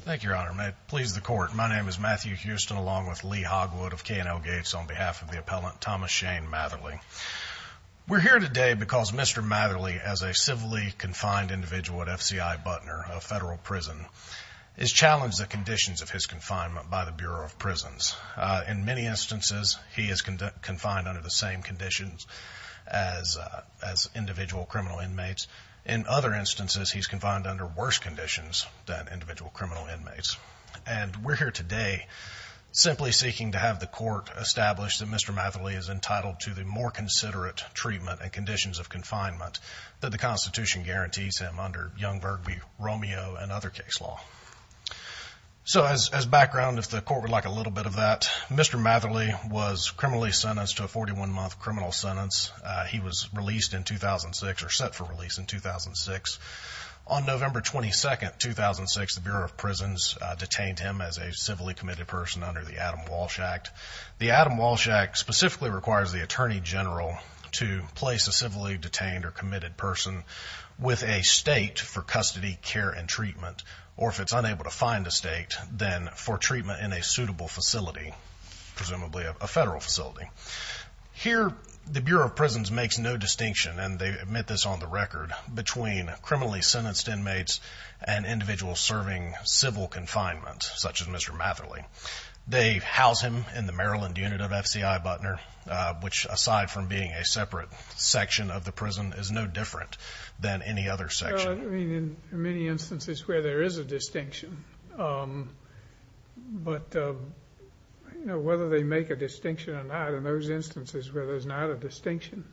Thank you, Your Honor. May it please the Court, my name is Matthew Houston along with Lee Hogwood of K&L Gates on behalf of the appellant Thomas Shane Matherly. We're here today because Mr. Matherly, as a civilly confined individual at F.C.I. Butner, a federal prison, is challenged the conditions of his confinement by the Bureau of Prisons. In many instances, he is confined under the same conditions as individual criminal inmates. In other instances, he's confined under worse conditions than individual criminal inmates. And we're here today simply seeking to have the Court establish that Mr. Matherly is entitled to the more considerate treatment and conditions of confinement that the Constitution guarantees him under Young, Burgby, Romeo, and other case law. So as background, if the Court would like a little bit of that, Mr. Matherly served a 41-month criminal sentence. He was released in 2006 or set for release in 2006. On November 22, 2006, the Bureau of Prisons detained him as a civilly committed person under the Adam Walsh Act. The Adam Walsh Act specifically requires the Attorney General to place a civilly detained or committed person with a state for custody, care, and treatment, or if it's unable to find a state, then for treatment in a suitable facility, presumably a federal facility. Here, the Bureau of Prisons makes no distinction, and they admit this on the record, between criminally sentenced inmates and individuals serving civil confinement, such as Mr. Matherly. They house him in the Maryland unit of FCI Butner, which aside from being a separate section of the prison, is no different than any other section. Well, I mean, in many instances where there is a distinction, but whether they make a distinction or not, in those instances where there's not a distinction,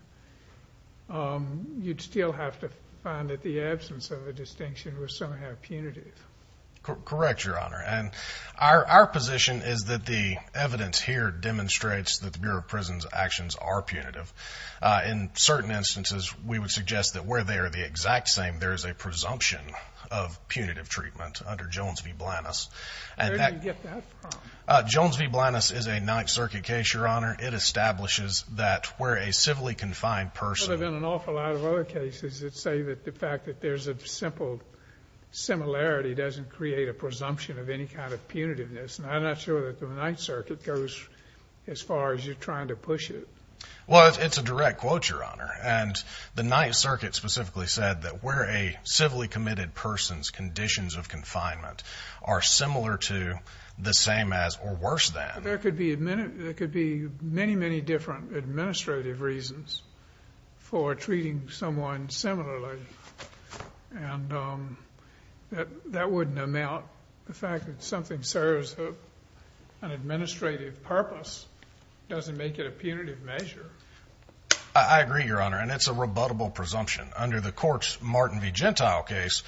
you'd still have to find that the absence of a distinction was somehow punitive. Correct, Your Honor, and our position is that the evidence here demonstrates that the Bureau of Prisons' actions are punitive. In certain instances, we would suggest that where they are the exact same, there is a presumption of punitive treatment under Jones v. Blanus. Where do you get that from? Jones v. Blanus is a Ninth Circuit case, Your Honor. It establishes that where a civilly confined person... There have been an awful lot of other cases that say that the fact that there's a simple similarity doesn't create a presumption of any kind of punitiveness, and I'm not sure that the Ninth Circuit goes as far as you're trying to push it. Well, it's a direct quote, Your Honor, and the Ninth Circuit specifically said that where a civilly committed person's conditions of confinement are similar to, the same as, or worse than... There could be many, many different administrative reasons for treating someone similarly, and that wouldn't amount, the fact that something serves an administrative purpose doesn't make it a punitive measure. I agree, Your Honor, and it's a rebuttable presumption. Under the court's Martin v. Gentile case,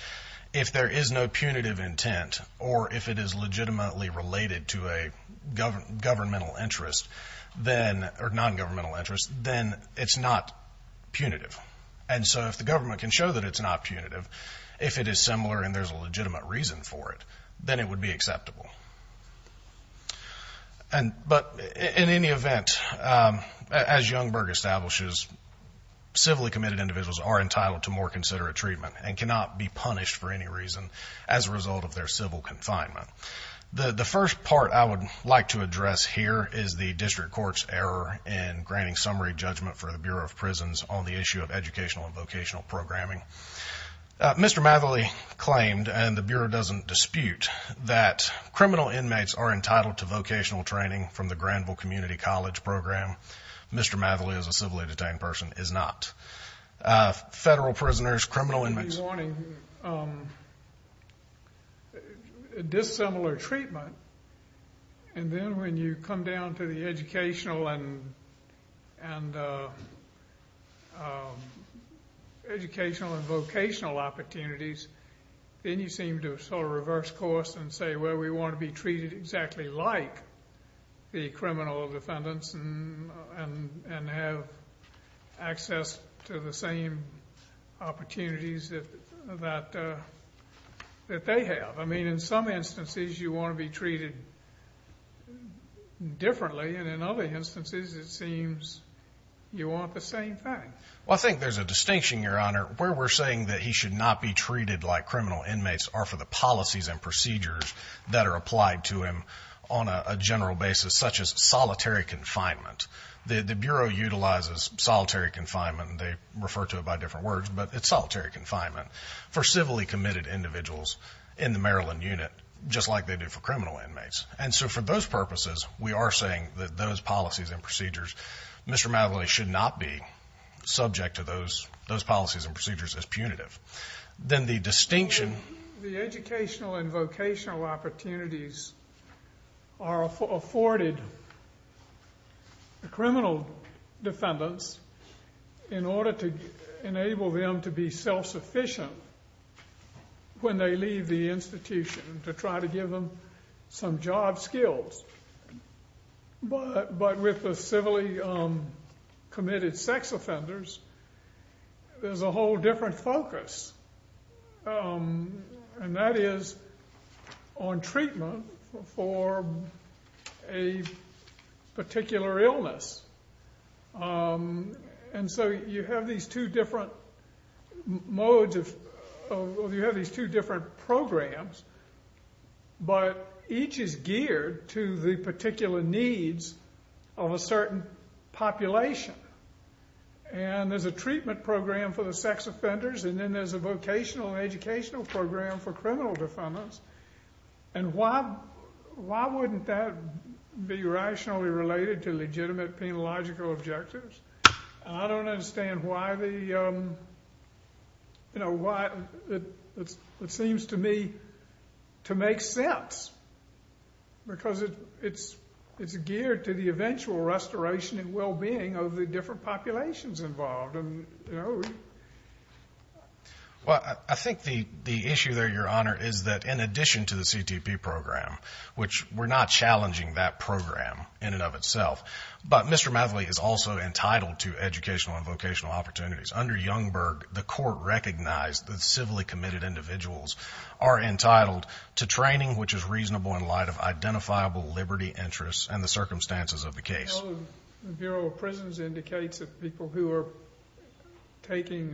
if there is no punitive intent, or if it is legitimately related to a governmental interest, or non-governmental interest, then it's not punitive. And so if the government can show that it's not punitive, if it is similar and there's a legitimate reason for it, then it would be acceptable. But in any event, as Youngberg establishes, civilly committed individuals are entitled to more considerate treatment and cannot be punished for any reason as a result of their civil confinement. The first part I would like to address here is the district court's error in granting summary judgment for the Bureau of Prisons on the issue of educational and vocational programming. Mr. Matherly claimed, and the Bureau doesn't dispute, that criminal inmates are entitled to vocational training from the Granville Community College program. Mr. Matherly, as a civilly detained person, is not. Federal prisoners, criminal inmates... dissimilar treatment, and then when you come down to the educational and vocational opportunities, then you seem to reverse course and say, well, we want to be treated exactly like the criminal defendants and have access to the same opportunities that they have. I mean, in some instances you want to be treated differently, and in other instances it seems you want the same thing. Well, I think there's a distinction, Your Honor. Where we're saying that he should not be treated like criminal inmates are for the policies and procedures that are applied to him on a general basis, such as solitary confinement. The Bureau utilizes solitary confinement, and they refer to it by different words, but it's solitary confinement for civilly committed individuals in the Maryland unit, just like they do for criminal inmates. And so for those purposes, we are saying that those policies and procedures, Mr. Matherly should not be subject to those policies and procedures as punitive. The educational and vocational opportunities are afforded the criminal defendants in order to enable them to be self-sufficient when they leave the institution, to try to give them some job skills. But with the civilly committed sex offenders, there's a whole different focus, and that is on treatment for a particular illness. And so you have these two different modes, or you have these two different programs, but each is geared to the particular needs of a certain population. And there's a treatment program for the sex offenders, and then there's a vocational and educational program for criminal defendants. And why wouldn't that be rationally related to legitimate penological objectives? I don't understand why the, you know, why it seems to me to make sense, because it's geared to the eventual restoration and well-being of the different populations involved. Well, I think the issue there, Your Honor, is that in addition to the CTP program, which we're not challenging that program in and of itself, but Mr. Matherly is also entitled to educational and vocational opportunities. Under Youngberg, the court recognized that civilly committed individuals are entitled to training which is reasonable in light of identifiable liberty interests and the circumstances of the case. Well, the Bureau of Prisons indicates that people who are taking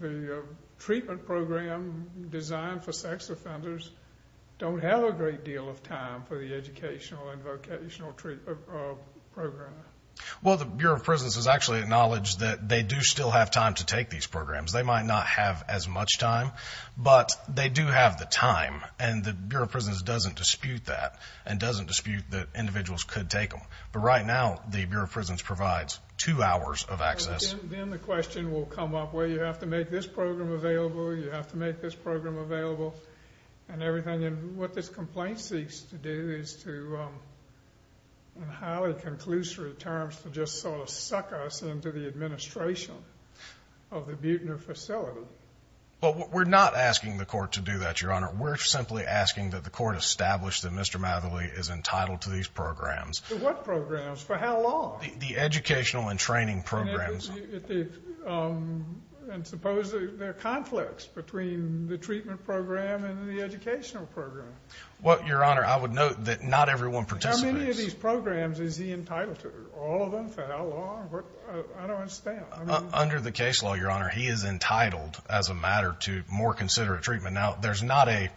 the treatment program designed for sex offenders don't have a great deal of time for the educational and vocational program. Well, the Bureau of Prisons has actually acknowledged that they do still have time to take these programs. They might not have as much time, but they do have the time. And the Bureau of Prisons doesn't dispute that and doesn't dispute that individuals could take them. But right now, the Bureau of Prisons provides two hours of access. Then the question will come up, well, you have to make this program available, you have to make this program available, and everything. And what this complaint seeks to do is to, in highly conclusory terms, to just sort of suck us into the administration of the Buechner facility. Well, we're not asking the court to do that, Your Honor. We're simply asking that the court establish that Mr. Matherly is entitled to these programs. What programs? For how long? The educational and training programs. And suppose there are conflicts between the treatment program and the educational program. Well, Your Honor, I would note that not everyone participates. How many of these programs is he entitled to? All of them, for how long? I don't understand. Under the case law, Your Honor, he is entitled as a matter to more considerate treatment. Now, there's not a,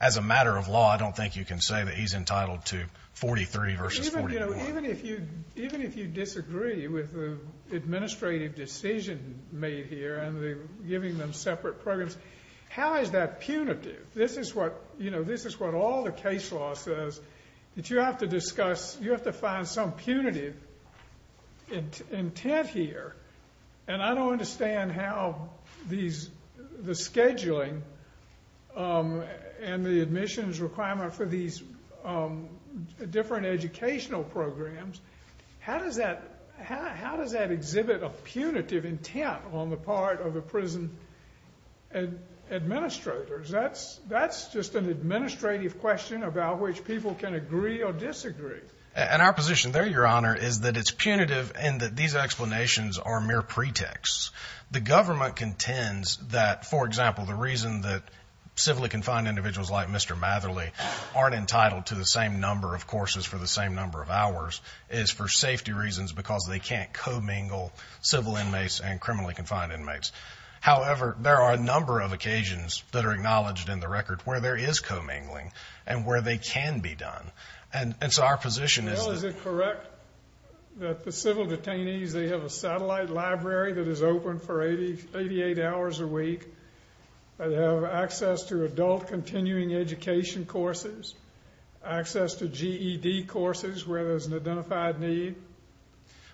as a matter of law, I don't think you can say that he's entitled to 43 versus 41. Even if you disagree with the administrative decision made here and giving them separate programs, how is that punitive? This is what, you know, this is what all the case law says, that you have to discuss, you have to find some punitive intent here. And I don't understand how these, the scheduling and the admissions requirement for these different educational programs, how does that, how does that exhibit a punitive intent on the part of the prison administrators? That's just an administrative question about which people can agree or disagree. And our position there, Your Honor, is that it's punitive and that these explanations are mere pretexts. The government contends that, for example, the reason that civilly confined individuals like Mr. Matherly aren't entitled to the same number of courses for the same number of hours is for safety reasons because they can't co-mingle civil inmates and criminally confined inmates. However, there are a number of occasions that are acknowledged in the record where there is co-mingling and where they can be done. And so our position is that... 88 hours a week, they have access to adult continuing education courses, access to GED courses where there's an identified need.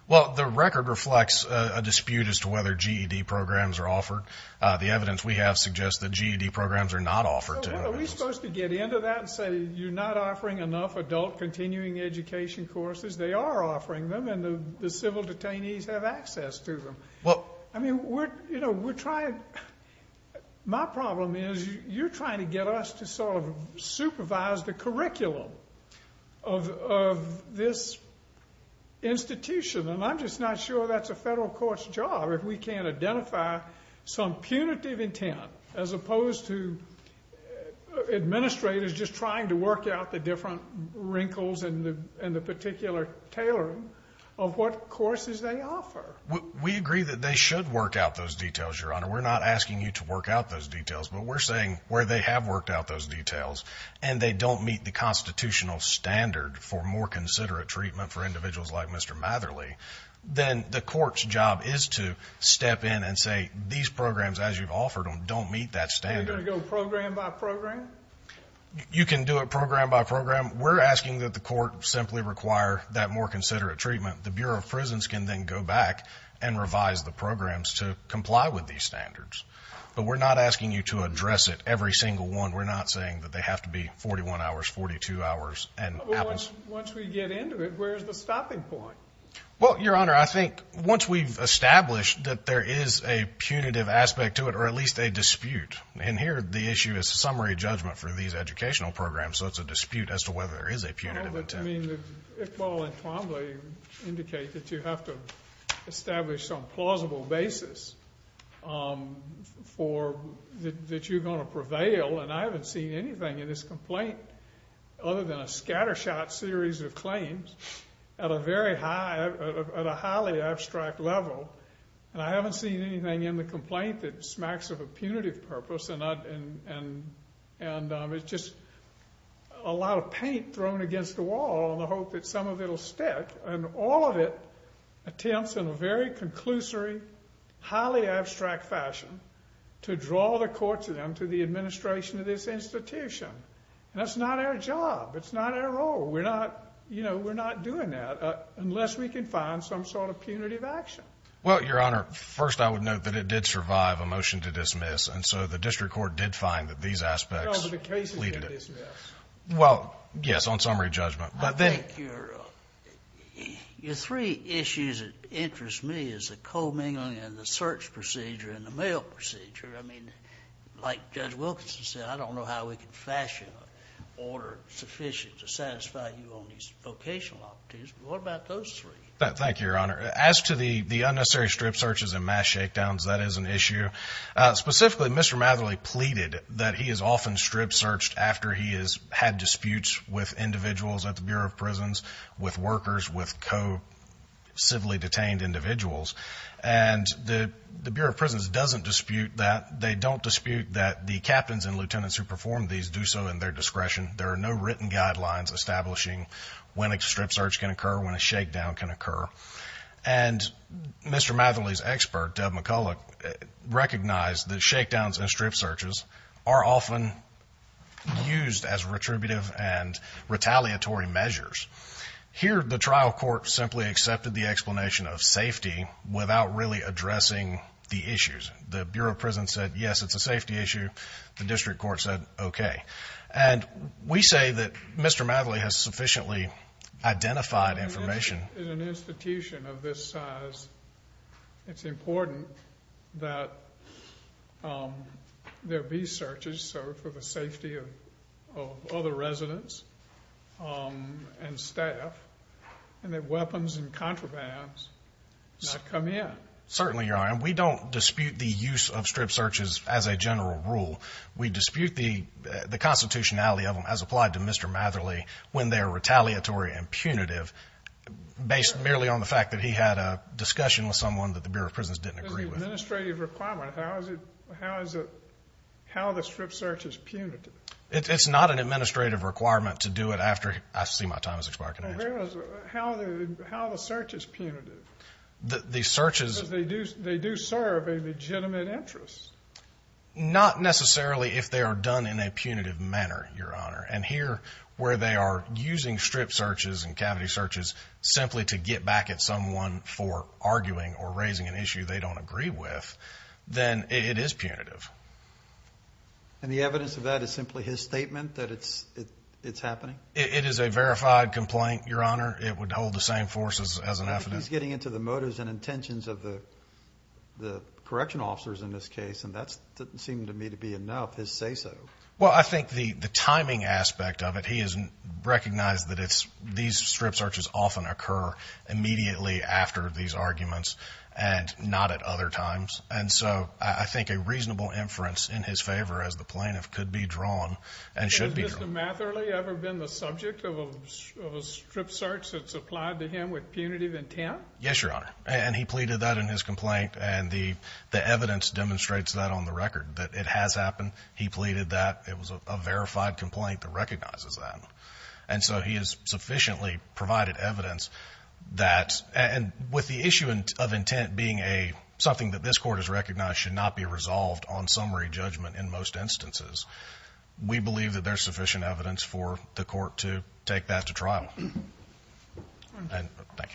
Well, the record reflects a dispute as to whether GED programs are offered. The evidence we have suggests that GED programs are not offered to inmates. Are we supposed to get into that and say you're not offering enough adult continuing education courses? They are offering them and the civil detainees have access to them. I mean, we're trying... My problem is you're trying to get us to sort of supervise the curriculum of this institution, and I'm just not sure that's a federal court's job if we can't identify some punitive intent as opposed to administrators just trying to work out the different wrinkles and the particular tailoring of what courses they offer. We agree that they should work out those details, Your Honor. We're not asking you to work out those details, but we're saying where they have worked out those details and they don't meet the constitutional standard for more considerate treatment for individuals like Mr. Matherly, then the court's job is to step in and say these programs, as you've offered them, don't meet that standard. Are you going to go program by program? You can do it program by program. We're asking that the court simply require that more considerate treatment. The Bureau of Prisons can then go back and revise the programs to comply with these standards. But we're not asking you to address it, every single one. We're not saying that they have to be 41 hours, 42 hours and hours. Once we get into it, where's the stopping point? Well, Your Honor, I think once we've established that there is a punitive aspect to it or at least a dispute, and here the issue is summary judgment for these educational programs, so it's a dispute as to whether there is a punitive intent. I mean, Iqbal and Twombly indicate that you have to establish some plausible basis that you're going to prevail, and I haven't seen anything in this complaint other than a scattershot series of claims at a highly abstract level, and I haven't seen anything in the complaint that smacks of a punitive purpose. And it's just a lot of paint thrown against the wall in the hope that some of it will stick, and all of it attempts in a very conclusory, highly abstract fashion to draw the courts of them to the administration of this institution. That's not our job. It's not our role. We're not doing that unless we can find some sort of punitive action. Well, Your Honor, first I would note that it did survive a motion to dismiss, and so the district court did find that these aspects leaded it. No, but the case is dismissed. Well, yes, on summary judgment. I think your three issues that interest me is the co-mingling and the search procedure and the mail procedure. I mean, like Judge Wilkinson said, I don't know how we can fashion an order sufficient to satisfy you on these vocational opportunities, but what about those three? Thank you, Your Honor. As to the unnecessary strip searches and mass shakedowns, that is an issue. Specifically, Mr. Matherly pleaded that he has often strip searched after he has had disputes with individuals at the Bureau of Prisons, with workers, with co-civilly detained individuals. And the Bureau of Prisons doesn't dispute that. They don't dispute that the captains and lieutenants who perform these do so in their discretion. There are no written guidelines establishing when a strip search can occur, when a shakedown can occur. And Mr. Matherly's expert, Deb McCullough, recognized that shakedowns and strip searches are often used as retributive and retaliatory measures. Here the trial court simply accepted the explanation of safety without really addressing the issues. The Bureau of Prisons said, yes, it's a safety issue. The district court said, okay. And we say that Mr. Matherly has sufficiently identified information. In an institution of this size, it's important that there be searches for the safety of other residents and staff and that weapons and contrabands not come in. Certainly, Your Honor. And we don't dispute the use of strip searches as a general rule. We dispute the constitutionality of them as applied to Mr. Matherly when they're retaliatory and punitive based merely on the fact that he had a discussion with someone that the Bureau of Prisons didn't agree with. It's an administrative requirement. How is it how the strip search is punitive? It's not an administrative requirement to do it after I see my time has expired. How the search is punitive? The search is. Because they do serve a legitimate interest. Not necessarily if they are done in a punitive manner, Your Honor. And here where they are using strip searches and cavity searches simply to get back at someone for arguing or raising an issue they don't agree with, then it is punitive. And the evidence of that is simply his statement that it's happening? It is a verified complaint, Your Honor. It would hold the same force as an evidence. He's getting into the motives and intentions of the correctional officers in this case, and that doesn't seem to me to be enough, his say-so. Well, I think the timing aspect of it, he has recognized that these strip searches often occur immediately after these arguments and not at other times. And so I think a reasonable inference in his favor as the plaintiff could be drawn and should be drawn. Has Mr. Matherly ever been the subject of a strip search that's applied to him with punitive intent? Yes, Your Honor. And he pleaded that in his complaint, and the evidence demonstrates that on the record, that it has happened. He pleaded that it was a verified complaint that recognizes that. And so he has sufficiently provided evidence that, and with the issue of intent being something that this court has recognized should not be resolved on summary judgment in most instances, we believe that there's sufficient evidence for the court to take that to trial. Thank you.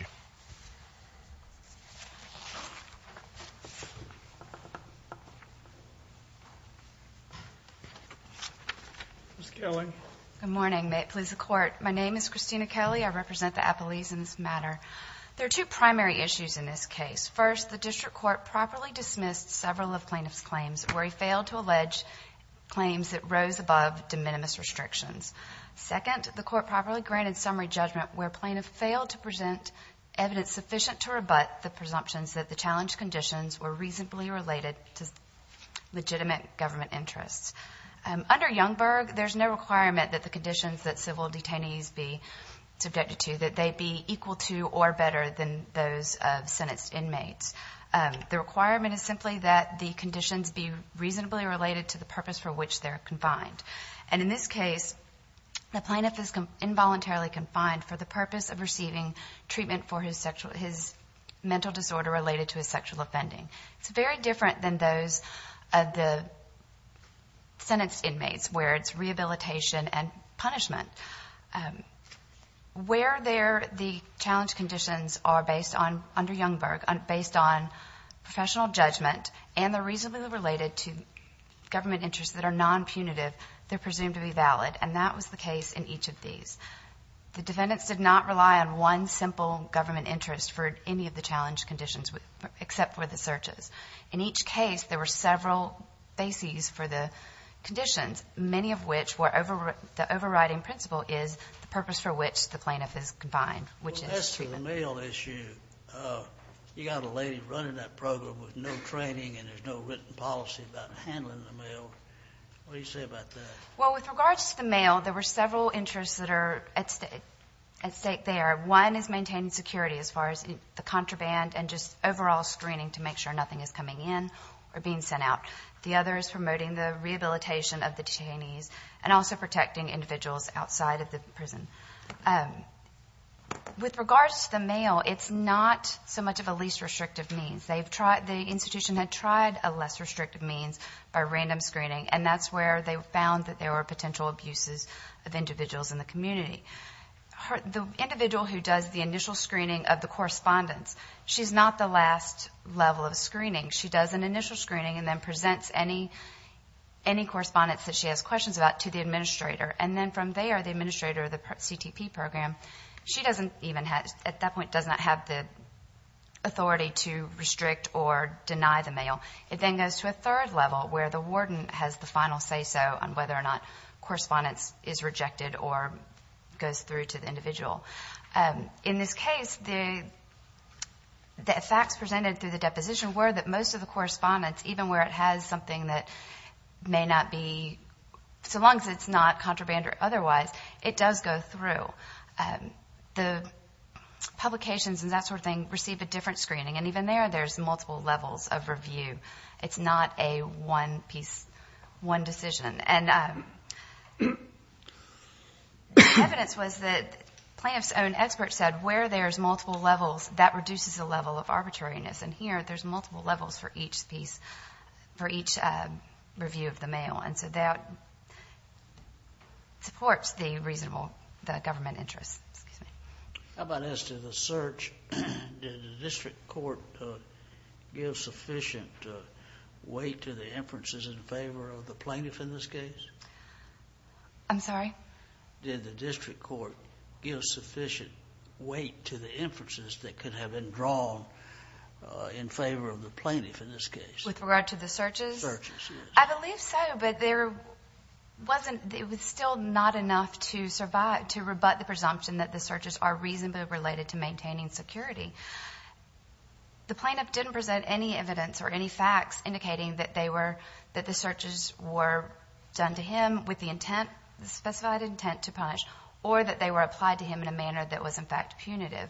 Ms. Kelly. Good morning. May it please the Court. My name is Christina Kelly. I represent the appellees in this matter. There are two primary issues in this case. First, the district court properly dismissed several of plaintiff's claims where he failed to allege claims that rose above de minimis restrictions. Second, the court properly granted summary judgment where plaintiff failed to present evidence sufficient to rebut the presumptions that the challenge conditions were reasonably related to legitimate government interests. Under Youngberg, there's no requirement that the conditions that civil detainees be subjected to, that they be equal to or better than those of sentenced inmates. The requirement is simply that the conditions be reasonably related to the purpose for which they're confined. And in this case, the plaintiff is involuntarily confined for the purpose of receiving treatment for his mental disorder related to his sexual offending. It's very different than those of the sentenced inmates where it's rehabilitation and punishment. Where the challenge conditions are, under Youngberg, based on professional judgment and they're reasonably related to government interests that are non-punitive, they're presumed to be valid, and that was the case in each of these. The defendants did not rely on one simple government interest for any of the challenge conditions except for the searches. In each case, there were several bases for the conditions, many of which were the overriding principle is the purpose for which the plaintiff is confined, which is treatment. Well, as for the mail issue, you got a lady running that program with no training and there's no written policy about handling the mail. What do you say about that? Well, with regards to the mail, there were several interests that are at stake there. One is maintaining security as far as the contraband and just overall screening to make sure nothing is coming in or being sent out. The other is promoting the rehabilitation of the detainees and also protecting individuals outside of the prison. With regards to the mail, it's not so much of a least restrictive means. The institution had tried a less restrictive means by random screening, and that's where they found that there were potential abuses of individuals in the community. The individual who does the initial screening of the correspondence, she's not the last level of screening. She does an initial screening and then presents any correspondence that she has questions about to the administrator. And then from there, the administrator of the CTP program, she at that point does not have the authority to restrict or deny the mail. It then goes to a third level where the warden has the final say-so on whether or not correspondence is rejected or goes through to the individual. In this case, the facts presented through the deposition were that most of the correspondence, even where it has something that may not be, so long as it's not contraband or otherwise, it does go through. The publications and that sort of thing receive a different screening, and even there, there's multiple levels of review. It's not a one-piece, one decision. And evidence was that plaintiff's own expert said where there's multiple levels, that reduces the level of arbitrariness. And here, there's multiple levels for each piece, for each review of the mail. And so that supports the reasonable government interest. How about as to the search? Did the district court give sufficient weight to the inferences in favor of the plaintiff in this case? I'm sorry? Did the district court give sufficient weight to the inferences that could have been drawn in favor of the plaintiff in this case? With regard to the searches? Searches, yes. I believe so, but there wasn't, it was still not enough to survive, to rebut the presumption that the searches are reasonably related to maintaining security. The plaintiff didn't present any evidence or any facts indicating that they were, that the searches were done to him with the intent, the specified intent to punish, or that they were applied to him in a manner that was, in fact, punitive.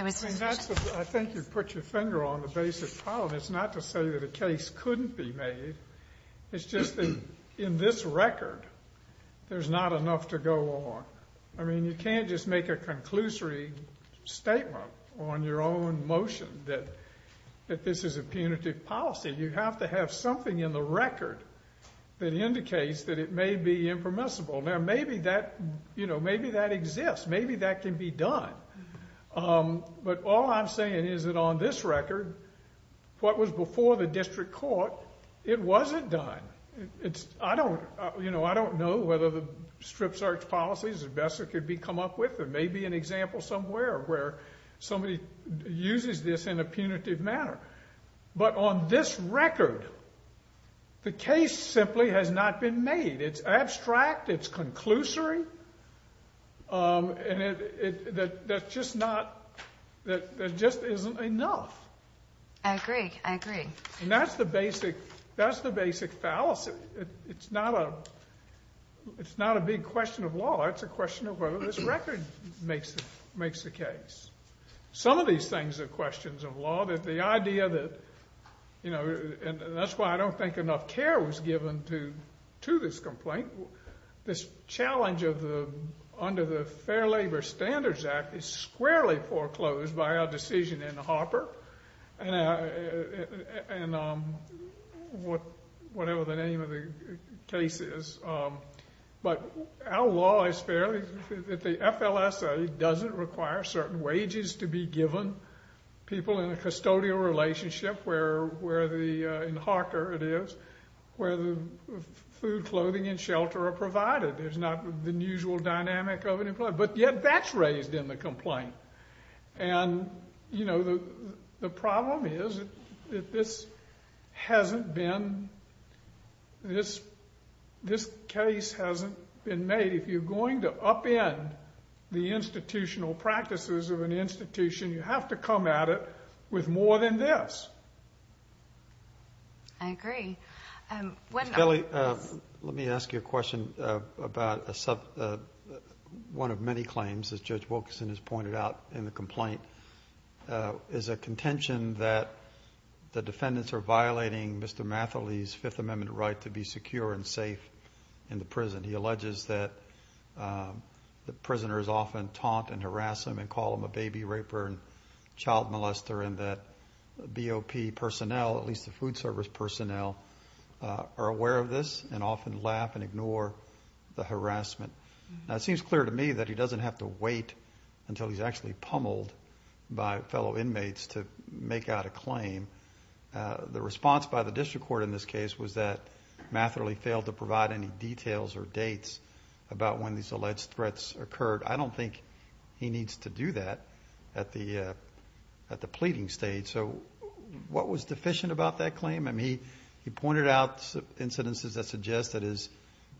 I think you've put your finger on the basic problem. And it's not to say that a case couldn't be made. It's just that in this record, there's not enough to go on. I mean, you can't just make a conclusory statement on your own motion that this is a punitive policy. You have to have something in the record that indicates that it may be impermissible. Now, maybe that, you know, maybe that exists. Maybe that can be done. But all I'm saying is that on this record, what was before the district court, it wasn't done. It's, I don't, you know, I don't know whether the strip search policy is the best that could be come up with. There may be an example somewhere where somebody uses this in a punitive manner. But on this record, the case simply has not been made. It's abstract. It's conclusory. And that just not, that just isn't enough. I agree. I agree. And that's the basic fallacy. It's not a big question of law. It's a question of whether this record makes the case. Some of these things are questions of law. The idea that, you know, and that's why I don't think enough care was given to this complaint. This challenge of the, under the Fair Labor Standards Act is squarely foreclosed by our decision in Harper and whatever the name of the case is. But our law is fairly, the FLSA doesn't require certain wages to be given people in a custodial relationship where the, in Harker it is, where the food, clothing, and shelter are provided. There's not the usual dynamic of an employee. But yet that's raised in the complaint. And, you know, the problem is that this hasn't been, this case hasn't been made. If you're going to upend the institutional practices of an institution, you have to come at it with more than this. I agree. Ms. Kelly, let me ask you a question about one of many claims, as Judge Wilkerson has pointed out in the complaint, is a contention that the defendants are violating Mr. Mathily's Fifth Amendment right to be secure and safe in the prison. He alleges that the prisoners often taunt and harass him and call him a baby raper and child molester, and that BOP personnel, at least the food service personnel, are aware of this and often laugh and ignore the harassment. Now, it seems clear to me that he doesn't have to wait until he's actually pummeled by fellow inmates to make out a claim. The response by the district court in this case was that Mathily failed to provide any details or dates about when these alleged threats occurred. I don't think he needs to do that at the pleading stage. So what was deficient about that claim? I mean, he pointed out incidences that suggest that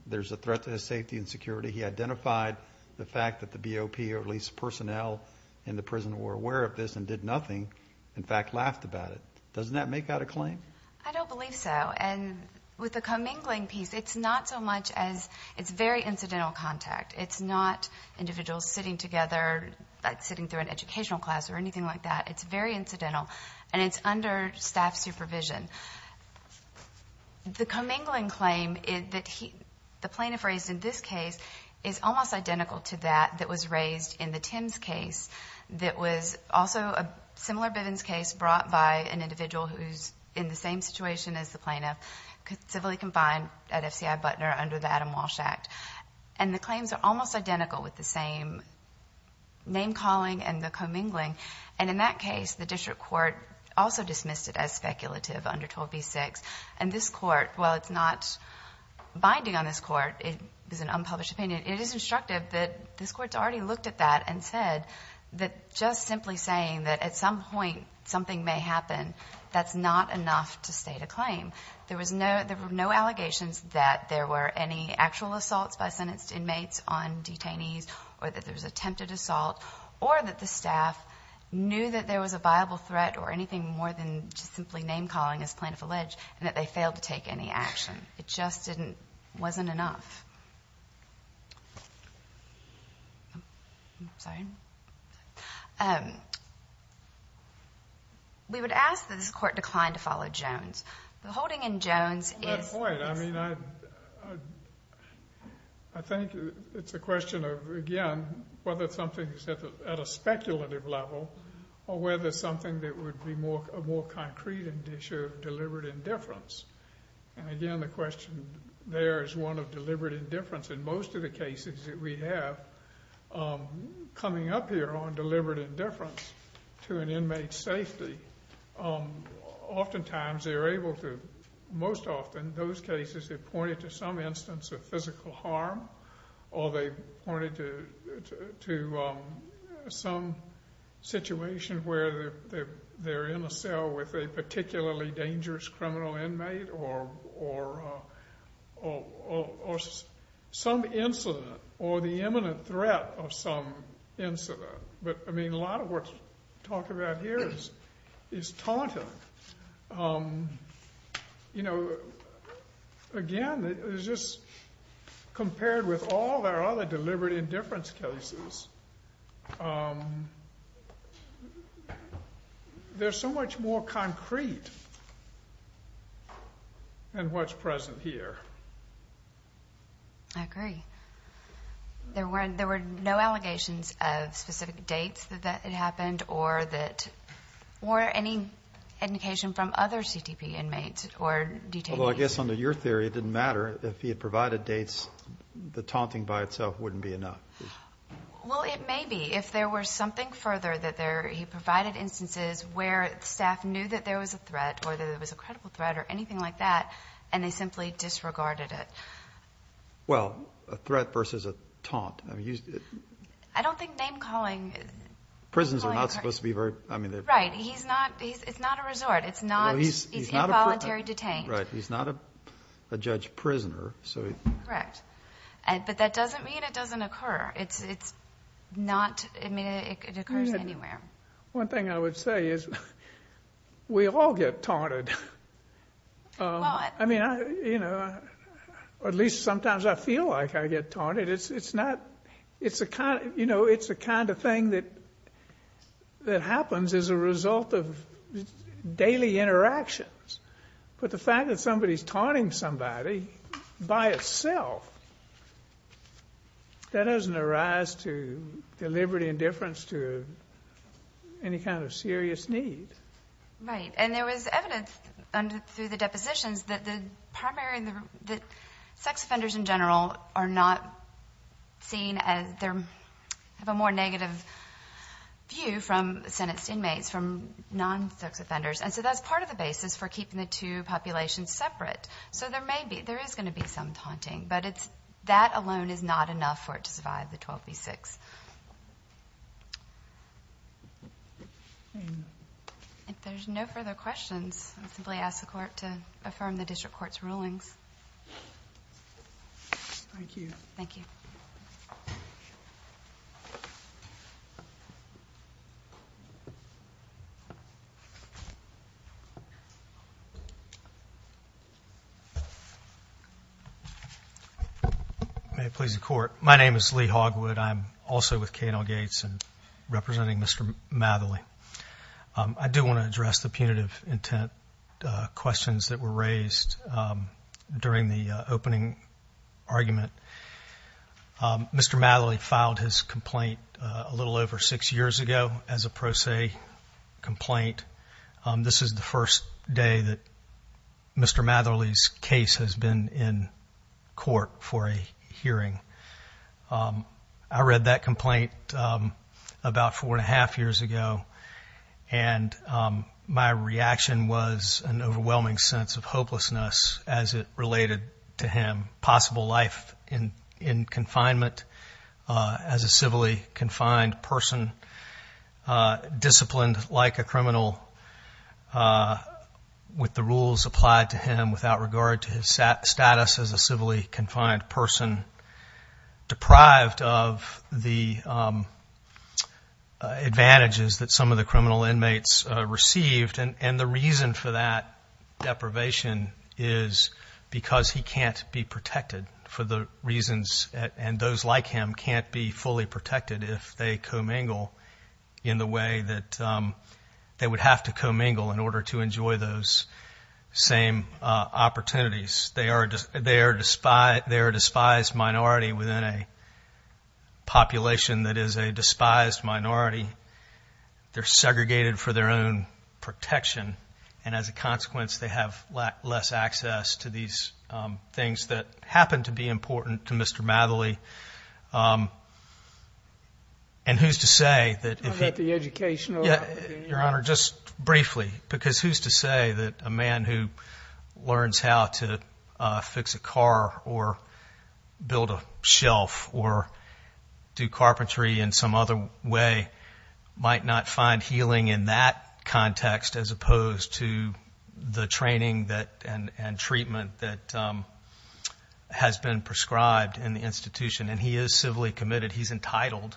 there's a threat to his safety and security. He identified the fact that the BOP, or at least personnel in the prison, were aware of this and did nothing, in fact laughed about it. Doesn't that make out a claim? I don't believe so, and with the commingling piece, it's not so much as it's very incidental contact. It's not individuals sitting together, like sitting through an educational class or anything like that. It's very incidental, and it's under staff supervision. The commingling claim that the plaintiff raised in this case is almost identical to that that was raised in the Tims case that was also a similar Bivens case brought by an individual who's in the same situation as the plaintiff, civilly confined at FCI Butner under the Adam Walsh Act. And the claims are almost identical with the same name-calling and the commingling. And in that case, the district court also dismissed it as speculative under 12b-6. And this court, while it's not binding on this court, it is an unpublished opinion, it is instructive that this court's already looked at that and said that just simply saying that at some point something may happen, that's not enough to state a claim. There were no allegations that there were any actual assaults by sentenced inmates on detainees or that there was attempted assault or that the staff knew that there was a viable threat or anything more than just simply name-calling as plaintiff alleged and that they failed to take any action. It just wasn't enough. We would ask that this court decline to follow Jones. The holding in Jones is- At that point, I mean, I think it's a question of, again, whether something's at a speculative level or whether something that would be a more concrete issue of deliberate indifference. And, again, the question there is one of deliberate indifference. In most of the cases that we have, coming up here on deliberate indifference to an inmate's safety, oftentimes they're able to-most often those cases they point to some instance of physical harm or they point it to some situation where they're in a cell with a particularly dangerous criminal inmate or some incident or the imminent threat of some incident. But, I mean, a lot of what's talked about here is taunting. You know, again, it's just compared with all our other deliberate indifference cases, there's so much more concrete in what's present here. I agree. There were no allegations of specific dates that it happened or any indication from other CTP inmates or detainees? Well, I guess under your theory, it didn't matter. If he had provided dates, the taunting by itself wouldn't be enough. Well, it may be. If there were something further that he provided instances where staff knew that there was a threat or that it was a credible threat or anything like that and they simply disregarded it. Well, a threat versus a taunt. I don't think name calling- Prisons are not supposed to be very- Right. It's not a resort. It's involuntary detain. Right. He's not a judge prisoner. Correct. But that doesn't mean it doesn't occur. It occurs anywhere. One thing I would say is we all get taunted. A lot. At least sometimes I feel like I get taunted. It's the kind of thing that happens as a result of daily interactions. But the fact that somebody's taunting somebody by itself, that doesn't arise to deliberate indifference to any kind of serious need. Right. And there was evidence through the depositions that the primary- that sex offenders in general are not seen as their- have a more negative view from Senate inmates from non-sex offenders. And so that's part of the basis for keeping the two populations separate. So there may be- there is going to be some taunting, but that alone is not enough for it to survive the 12 v. 6. If there's no further questions, I'll simply ask the Court to affirm the District Court's rulings. Thank you. Thank you. May it please the Court. My name is Lee Hogwood. I'm also with K&L Gates and representing Mr. Matherly. I do want to address the punitive intent questions that were raised during the opening argument. Mr. Matherly filed his complaint a little over six years ago as a pro se complaint. This is the first day that Mr. Matherly's case has been in court for a hearing. I read that complaint about four and a half years ago, and my reaction was an overwhelming sense of hopelessness as it related to him. in confinement as a civilly confined person, disciplined like a criminal with the rules applied to him without regard to his status as a civilly confined person, deprived of the advantages that some of the criminal inmates received. And the reason for that deprivation is because he can't be protected for the reasons and those like him can't be fully protected if they commingle in the way that they would have to commingle in order to enjoy those same opportunities. They are a despised minority within a population that is a despised minority. They're segregated for their own protection. And as a consequence, they have less access to these things that happen to be important to Mr. Matherly. And who's to say that the education, Your Honor, just briefly, because who's to say that a man who learns how to fix a car or build a shelf or do carpentry in some other way might not find healing in that context as opposed to the training and treatment that has been prescribed in the institution. And he is civilly committed. He's entitled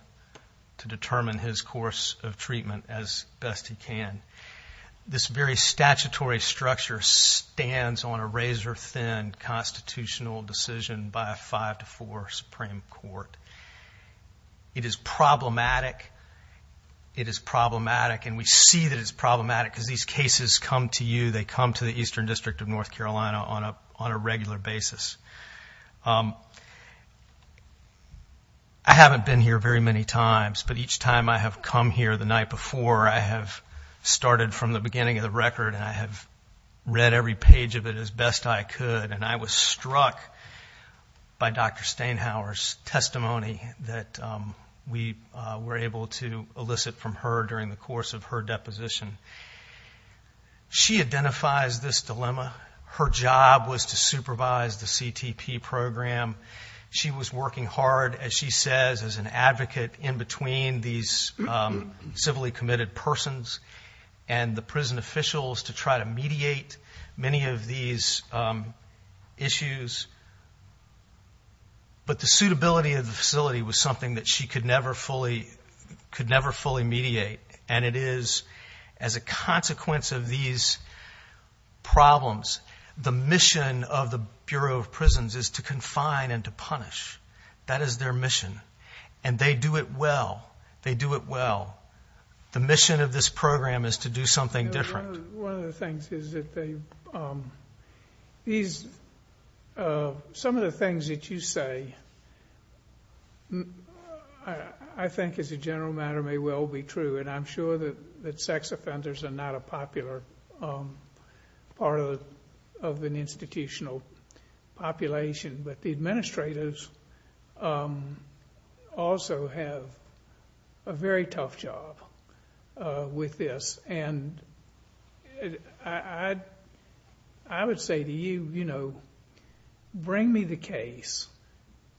to determine his course of treatment as best he can. This very statutory structure stands on a razor-thin constitutional decision by a 5-4 Supreme Court. It is problematic. It is problematic, and we see that it's problematic because these cases come to you. on a regular basis. I haven't been here very many times, but each time I have come here the night before I have started from the beginning of the record and I have read every page of it as best I could. And I was struck by Dr. Stainhower's testimony that we were able to elicit from her during the course of her deposition. She identifies this dilemma. Her job was to supervise the CTP program. She was working hard, as she says, as an advocate in between these civilly committed persons and the prison officials to try to mediate many of these issues. But the suitability of the facility was something that she could never fully mediate, and it is, as a consequence of these problems, the mission of the Bureau of Prisons is to confine and to punish. That is their mission, and they do it well. They do it well. The mission of this program is to do something different. One of the things is that they've, these, some of the things that you say, I think as a general matter may well be true, and I'm sure that sex offenders are not a popular part of an institutional population, but the administrators also have a very tough job with this. And I would say to you, you know, bring me the case.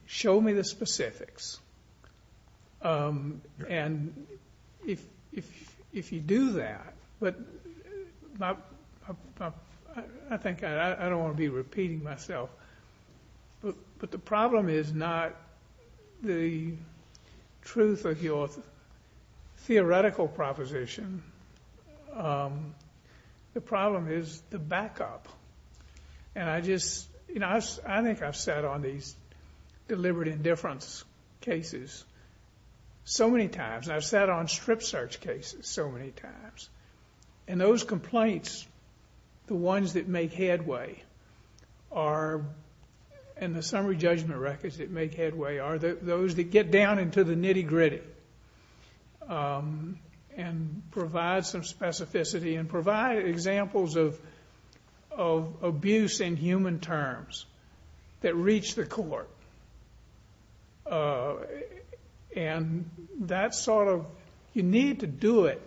Show me the specifics. And if you do that, but I think I don't want to be repeating myself, but the problem is not the truth of your theoretical proposition. The problem is the backup, and I just, you know, I think I've sat on these deliberate indifference cases so many times, and I've sat on strip search cases so many times, and those complaints, the ones that make headway are, and the summary judgment records that make headway are those that get down into the nitty-gritty and provide some specificity and provide examples of abuse in human terms that reach the court. And that sort of, you need to do it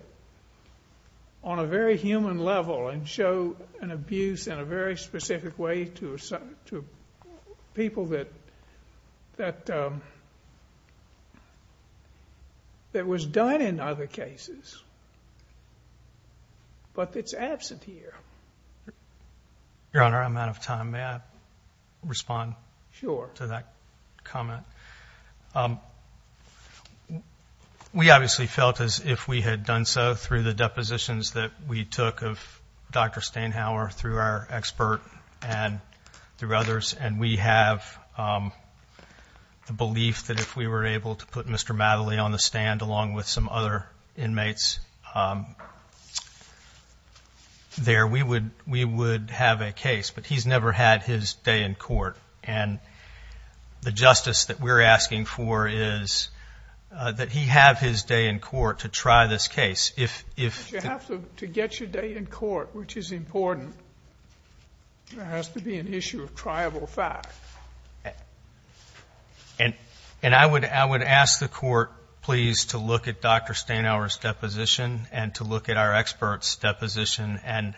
on a very human level and show an abuse in a very specific way to people that was done in other cases, but that's absent here. Your Honor, I'm out of time. May I respond to that comment? Sure. We obviously felt as if we had done so through the depositions that we took of Dr. Steinhauer through our expert and through others, and we have the belief that if we were able to put Mr. Mattely on the stand along with some other inmates there, we would have a case. But he's never had his day in court, and the justice that we're asking for is that he have his day in court to try this case. But you have to get your day in court, which is important. There has to be an issue of triable fact. And I would ask the Court, please, to look at Dr. Steinhauer's deposition and to look at our expert's deposition, and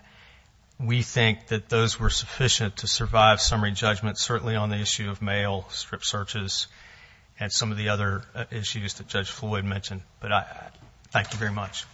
we think that those were sufficient to survive summary judgment, certainly on the issue of mail, strip searches, and some of the other issues that Judge Floyd mentioned. But thank you very much.